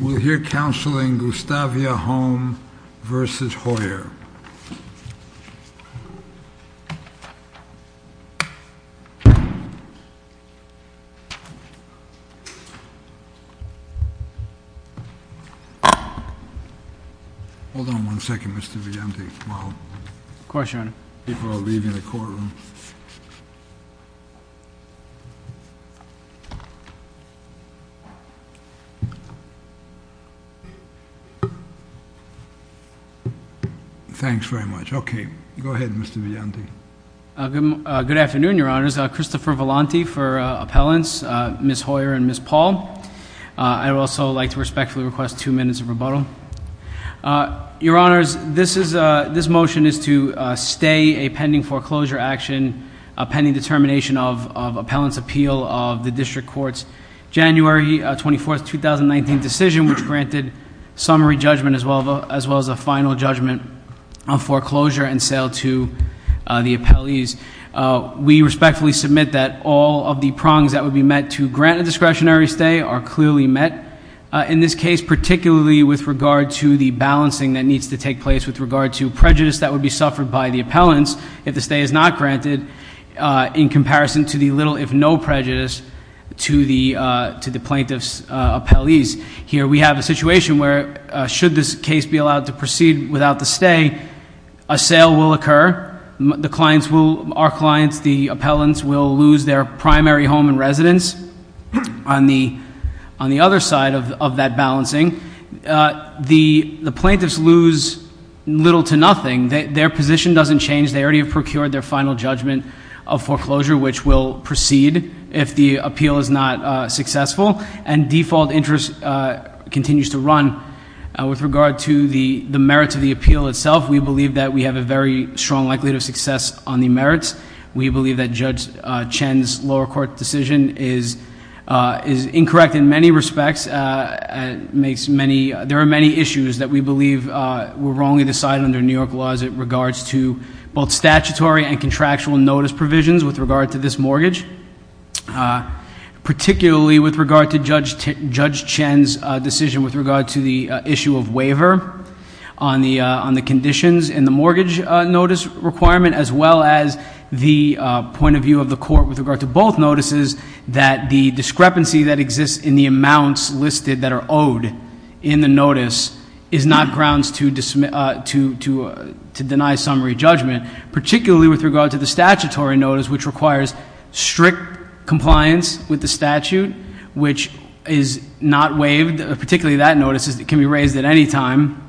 We'll hear counseling Gustavia Home v. Hoyer. Hold on one second, Mr. Villante, while people are leaving the courtroom. Thanks very much. Okay, go ahead, Mr. Villante. Good afternoon, Your Honors. Christopher Villante for appellants, Ms. Hoyer and Ms. Paul. I would also like to respectfully request two minutes of rebuttal. Your Honors, this motion is to stay a pending foreclosure action, pending determination of appellant's appeal of the district court's January 24th, 2019 decision, which granted summary judgment as well as a final judgment on foreclosure and sale to the appellees. We respectfully submit that all of the prongs that would be met to grant a discretionary stay are clearly met. In this case, particularly with regard to the balancing that needs to take place with regard to prejudice that would be suffered by the appellants, if the stay is not granted, in comparison to the little if no prejudice to the plaintiff's appellees. Here we have a situation where should this case be allowed to proceed without the stay, a sale will occur. Our clients, the appellants, will lose their primary home and residence on the other side of that balancing. The plaintiffs lose little to nothing. Their position doesn't change. They already have procured their final judgment of foreclosure, which will proceed if the appeal is not successful. And default interest continues to run. With regard to the merits of the appeal itself, we believe that we have a very strong likelihood of success on the merits. We believe that Judge Chen's lower court decision is incorrect in many respects. There are many issues that we believe were wrongly decided under New York laws in regards to both statutory and contractual notice provisions with regard to this mortgage. Particularly with regard to Judge Chen's decision with regard to the issue of waiver on the conditions in the mortgage notice requirement, as well as the point of view of the court with regard to both notices. That the discrepancy that exists in the amounts listed that are owed in the notice is not grounds to deny summary judgment, particularly with regard to the statutory notice which requires strict compliance with the statute. Which is not waived, particularly that notice can be raised at any time.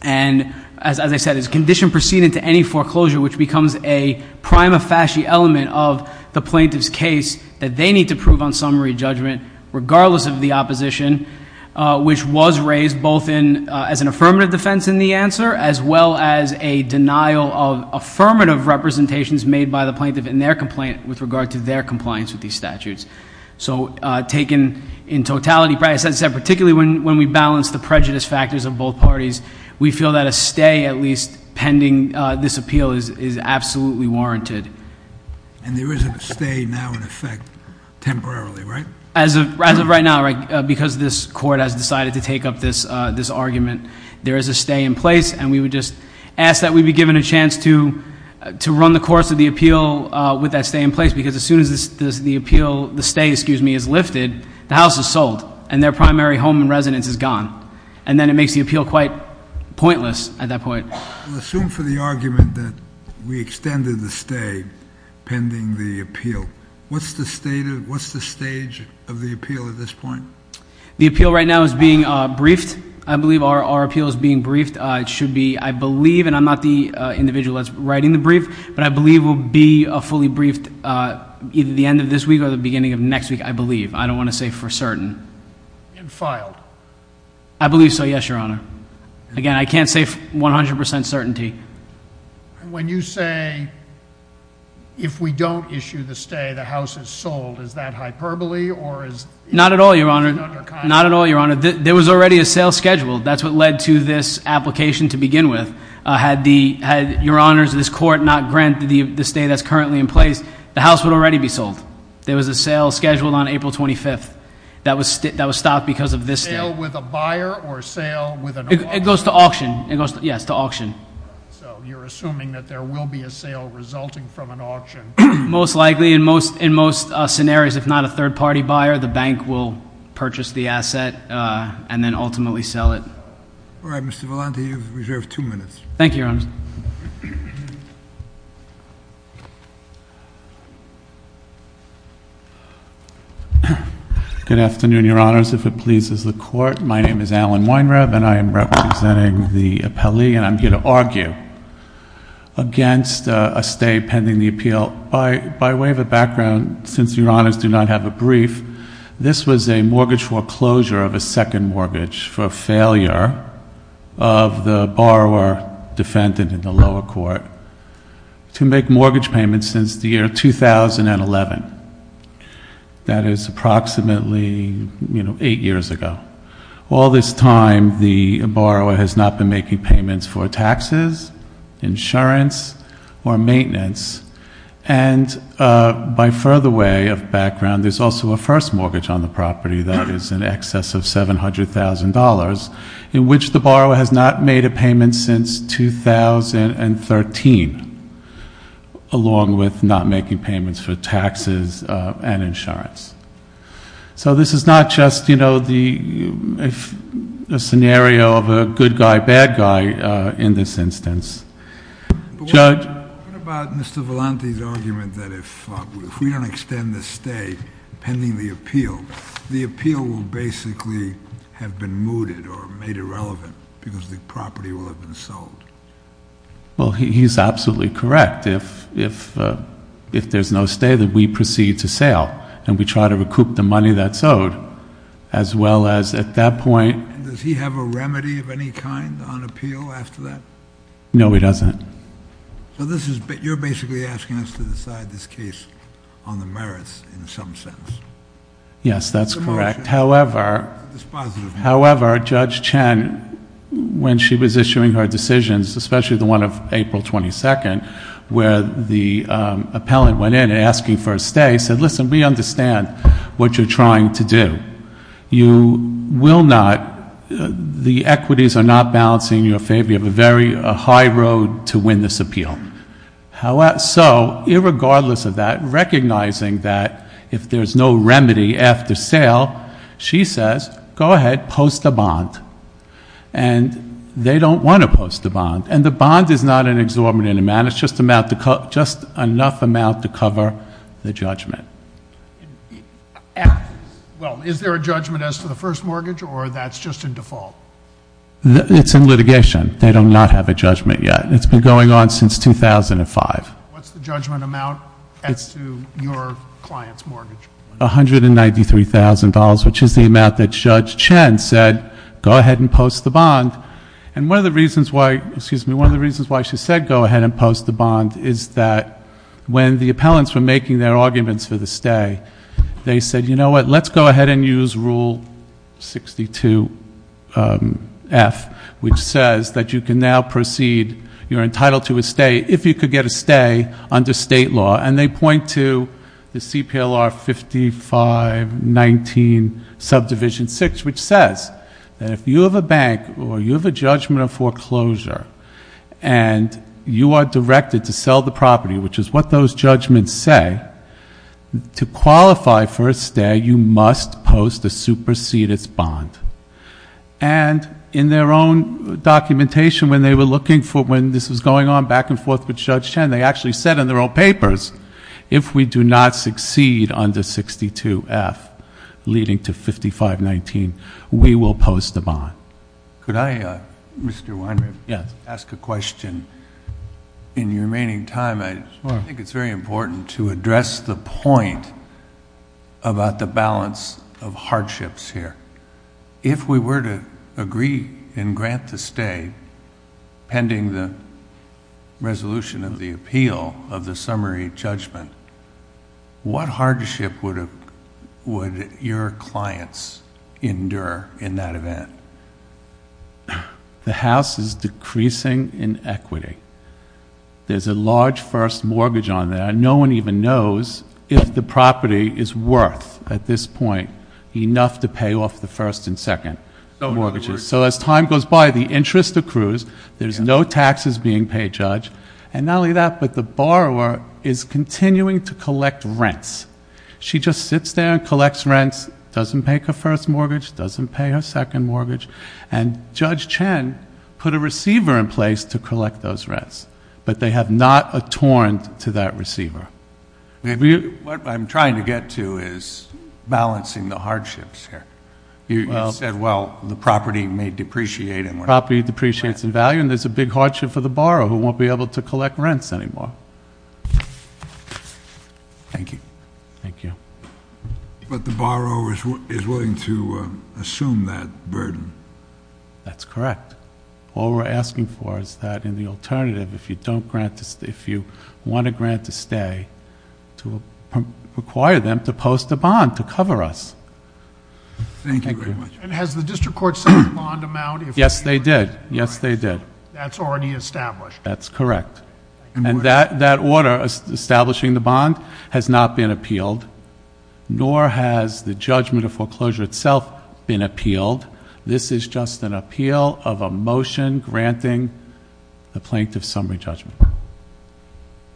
And as I said, it's a condition proceeding to any foreclosure which becomes a prima facie element of the plaintiff's case that they need to prove on summary judgment regardless of the opposition. Which was raised both as an affirmative defense in the answer as well as a denial of affirmative representations made by the plaintiff in their complaint with regard to their compliance with these statutes. So taken in totality, particularly when we balance the prejudice factors of both parties, we feel that a stay at least pending this appeal is absolutely warranted. And there is a stay now in effect temporarily, right? As of right now, because this court has decided to take up this argument, there is a stay in place. And we would just ask that we be given a chance to run the course of the appeal with that stay in place. Because as soon as the appeal, the stay, excuse me, is lifted, the house is sold. And their primary home and residence is gone. And then it makes the appeal quite pointless at that point. Assume for the argument that we extended the stay pending the appeal. What's the stage of the appeal at this point? The appeal right now is being briefed. I believe our appeal is being briefed. It should be, I believe, and I'm not the individual that's writing the brief, but I believe we'll be fully briefed either the end of this week or the beginning of next week, I believe. I don't want to say for certain. And filed. I believe so, yes, your honor. Again, I can't say 100% certainty. When you say, if we don't issue the stay, the house is sold, is that hyperbole or is- Not at all, your honor. Not at all, your honor. There was already a sale scheduled. That's what led to this application to begin with. Had your honors, this court, not granted the stay that's currently in place, the house would already be sold. There was a sale scheduled on April 25th that was stopped because of this stay. A sale with a buyer or a sale with an auction? It goes to auction, it goes, yes, to auction. So you're assuming that there will be a sale resulting from an auction? Most likely, in most scenarios, if not a third party buyer, the bank will purchase the asset and then ultimately sell it. All right, Mr. Volante, you have reserved two minutes. Thank you, your honor. Good afternoon, your honors. If it pleases the court, my name is Alan Weinreb and I am representing the appellee and I'm here to argue against a stay pending the appeal. By way of a background, since your honors do not have a brief, this was a mortgage foreclosure of a second mortgage for the failure of the borrower defendant in the lower court to make mortgage payments since the year 2011. That is approximately eight years ago. All this time, the borrower has not been making payments for taxes, insurance, or maintenance. And by further way of background, there's also a first mortgage on the property that is in excess of $700,000. In which the borrower has not made a payment since 2013, along with not making payments for taxes and insurance. So this is not just a scenario of a good guy, bad guy in this instance. Judge? What about Mr. Volante's argument that if we don't extend the stay pending the appeal, the appeal will basically have been mooted or made irrelevant because the property will have been sold? Well, he's absolutely correct. If there's no stay, then we proceed to sale and we try to recoup the money that's owed. As well as at that point- Does he have a remedy of any kind on appeal after that? No, he doesn't. So you're basically asking us to decide this case on the merits in some sense. Yes, that's correct. However, Judge Chen, when she was issuing her decisions, especially the one of April 22nd, where the appellant went in and asking for a stay, said, listen, we understand what you're trying to do. You will not, the equities are not balancing in your favor. You have a very high road to win this appeal. So, irregardless of that, recognizing that if there's no remedy after sale, she says, go ahead, post a bond. And they don't want to post a bond. And the bond is not an exorbitant amount, it's just enough amount to cover the judgment. Well, is there a judgment as to the first mortgage, or that's just in default? It's in litigation. They do not have a judgment yet. It's been going on since 2005. What's the judgment amount as to your client's mortgage? $193,000, which is the amount that Judge Chen said, go ahead and post the bond. And one of the reasons why, excuse me, one of the reasons why she said go ahead and post the bond is that when the appellants were making their arguments for the stay, they said, you know what? Let's go ahead and use rule 62 F, which says that you can now proceed, you're entitled to a stay, if you could get a stay under state law. And they point to the CPLR 5519 subdivision 6, which says that if you have a bank, or you have a judgment of foreclosure, and you are directed to sell the property, which is what those judgments say, to qualify for a stay, you must post a superseded bond. And in their own documentation, when they were looking for, when this was going on back and forth with Judge Chen, they actually said in their own papers, if we do not succeed under 62 F, leading to 5519, we will post the bond. Could I, Mr. Weinberg? Yes. Ask a question. In your remaining time, I think it's very important to address the point about the balance of hardships here. If we were to agree and grant the stay, pending the resolution of the appeal of the summary judgment, what hardship would your clients endure in that event? The house is decreasing in equity. There's a large first mortgage on there, and no one even knows if the property is worth, at this point, enough to pay off the first and second mortgages. So as time goes by, the interest accrues, there's no taxes being paid, Judge. And not only that, but the borrower is continuing to collect rents. She just sits there and collects rents, doesn't pay her first mortgage, doesn't pay her second mortgage. And Judge Chen put a receiver in place to collect those rents, but they have not atoned to that receiver. What I'm trying to get to is balancing the hardships here. You said, well, the property may depreciate and- Property depreciates in value, and there's a big hardship for the borrower, who won't be able to collect rents anymore. Thank you. Thank you. But the borrower is willing to assume that burden. That's correct. All we're asking for is that in the alternative, if you want a grant to stay, to require them to post a bond to cover us. Thank you very much. And has the district court set a bond amount? Yes, they did. Yes, they did. That's already established. That's correct. And that order establishing the bond has not been appealed, nor has the judgment of foreclosure itself been appealed. This is just an appeal of a motion granting the plaintiff's summary judgment.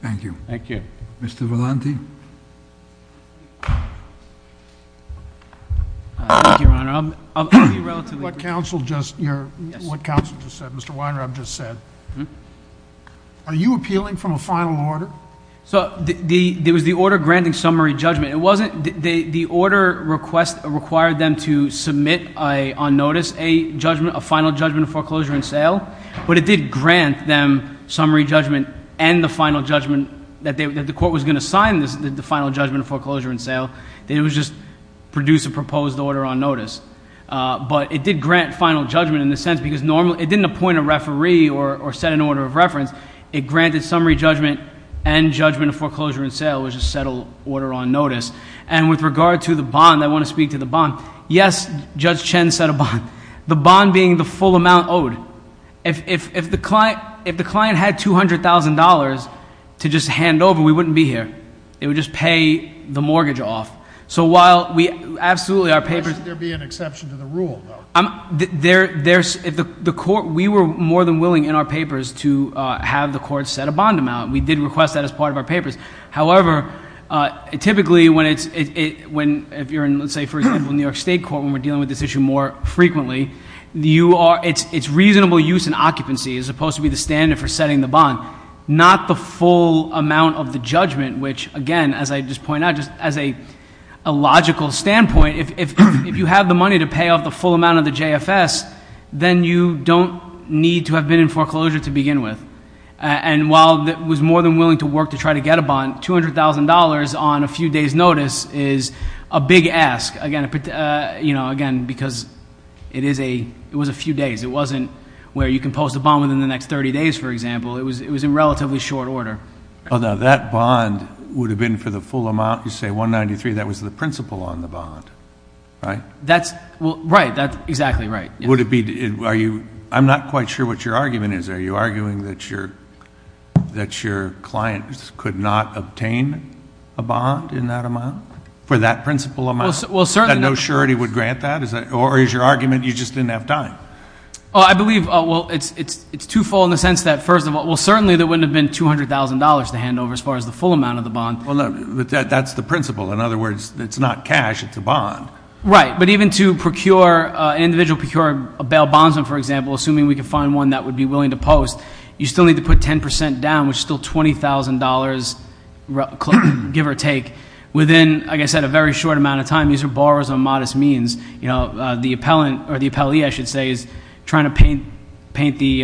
Thank you. Thank you. Mr. Valenti. Thank you, Your Honor, I'll be relatively brief. What counsel just, what counsel just said, Mr. Weinraub just said, are you appealing from a final order? So, there was the order granting summary judgment. It wasn't, the order request required them to submit on notice a judgment, a final judgment of foreclosure and sale. But it did grant them summary judgment and the final judgment that the court was going to sign the final judgment of foreclosure and sale. It was just produce a proposed order on notice. But it did grant final judgment in the sense because normally, it didn't appoint a referee or set an order of reference. It granted summary judgment and judgment of foreclosure and sale, which is a settled order on notice. And with regard to the bond, I want to speak to the bond. Yes, Judge Chen said a bond. The bond being the full amount owed. If the client had $200,000 to just hand over, we wouldn't be here. It would just pay the mortgage off. So while we absolutely, our papers- There'd be an exception to the rule, though. There's, if the court, we were more than willing in our papers to have the court set a bond amount. We did request that as part of our papers. However, typically when it's, if you're in, let's say, for example, New York State Court when we're dealing with this issue more frequently, it's reasonable use and occupancy as opposed to be the standard for setting the bond, not the full amount of the judgment. Which again, as I just point out, just as a logical standpoint, if you have the money to pay off the full amount of the JFS, then you don't need to have been in foreclosure to begin with. And while it was more than willing to work to try to get a bond, $200,000 on a few days notice is a big ask. Again, because it was a few days. It wasn't where you can post a bond within the next 30 days, for example. It was in relatively short order. Although that bond would have been for the full amount, you say 193, that was the principal on the bond, right? That's, well, right. That's exactly right. Would it be, are you, I'm not quite sure what your argument is. Are you arguing that your client could not obtain a bond in that amount? For that principal amount. Well certainly. That no surety would grant that? Or is your argument you just didn't have time? I believe, well, it's twofold in the sense that first of all, well certainly there wouldn't have been $200,000 to hand over as far as the full amount of the bond. Well, that's the principle. In other words, it's not cash, it's a bond. Right, but even to procure, individual procure a bail bondsman, for example, assuming we can find one that would be willing to post. You still need to put 10% down, which is still $20,000, give or take. Within, like I said, a very short amount of time. These are borrowers on modest means. The appellant, or the appellee I should say, is trying to paint the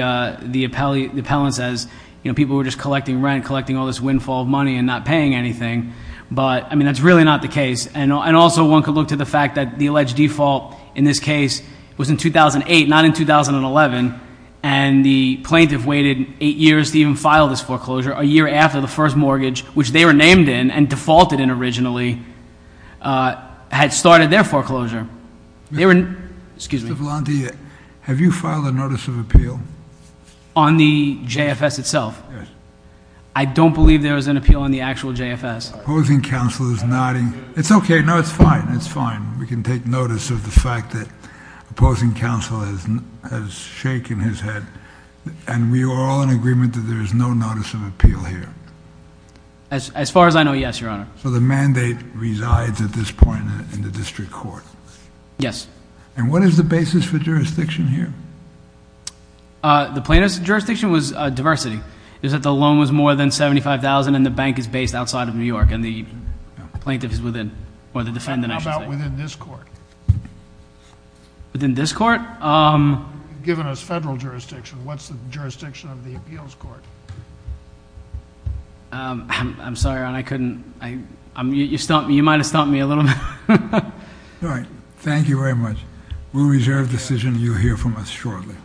appellants as people who are just collecting rent, collecting all this windfall money and not paying anything. But, I mean, that's really not the case. And also one could look to the fact that the alleged default in this case was in 2008, not in 2011. And the plaintiff waited eight years to even file this foreclosure, a year after the first mortgage, which they were named in and defaulted in originally, had started their foreclosure. They were, excuse me. Mr. Volante, have you filed a notice of appeal? On the JFS itself? Yes. I don't believe there was an appeal on the actual JFS. Opposing counsel is nodding. It's okay, no, it's fine, it's fine. We can take notice of the fact that opposing counsel has shaken his head. And we are all in agreement that there is no notice of appeal here. As far as I know, yes, your honor. So the mandate resides at this point in the district court? Yes. And what is the basis for jurisdiction here? The plaintiff's jurisdiction was diversity. Is that the loan was more than $75,000 and the bank is based outside of New York and the plaintiff is within, or the defendant I should say. How about within this court? Within this court? Given us federal jurisdiction, what's the jurisdiction of the appeals court? I'm sorry, your honor, I couldn't, you might have stumped me a little bit. All right, thank you very much. We'll reserve the decision you hear from us shortly.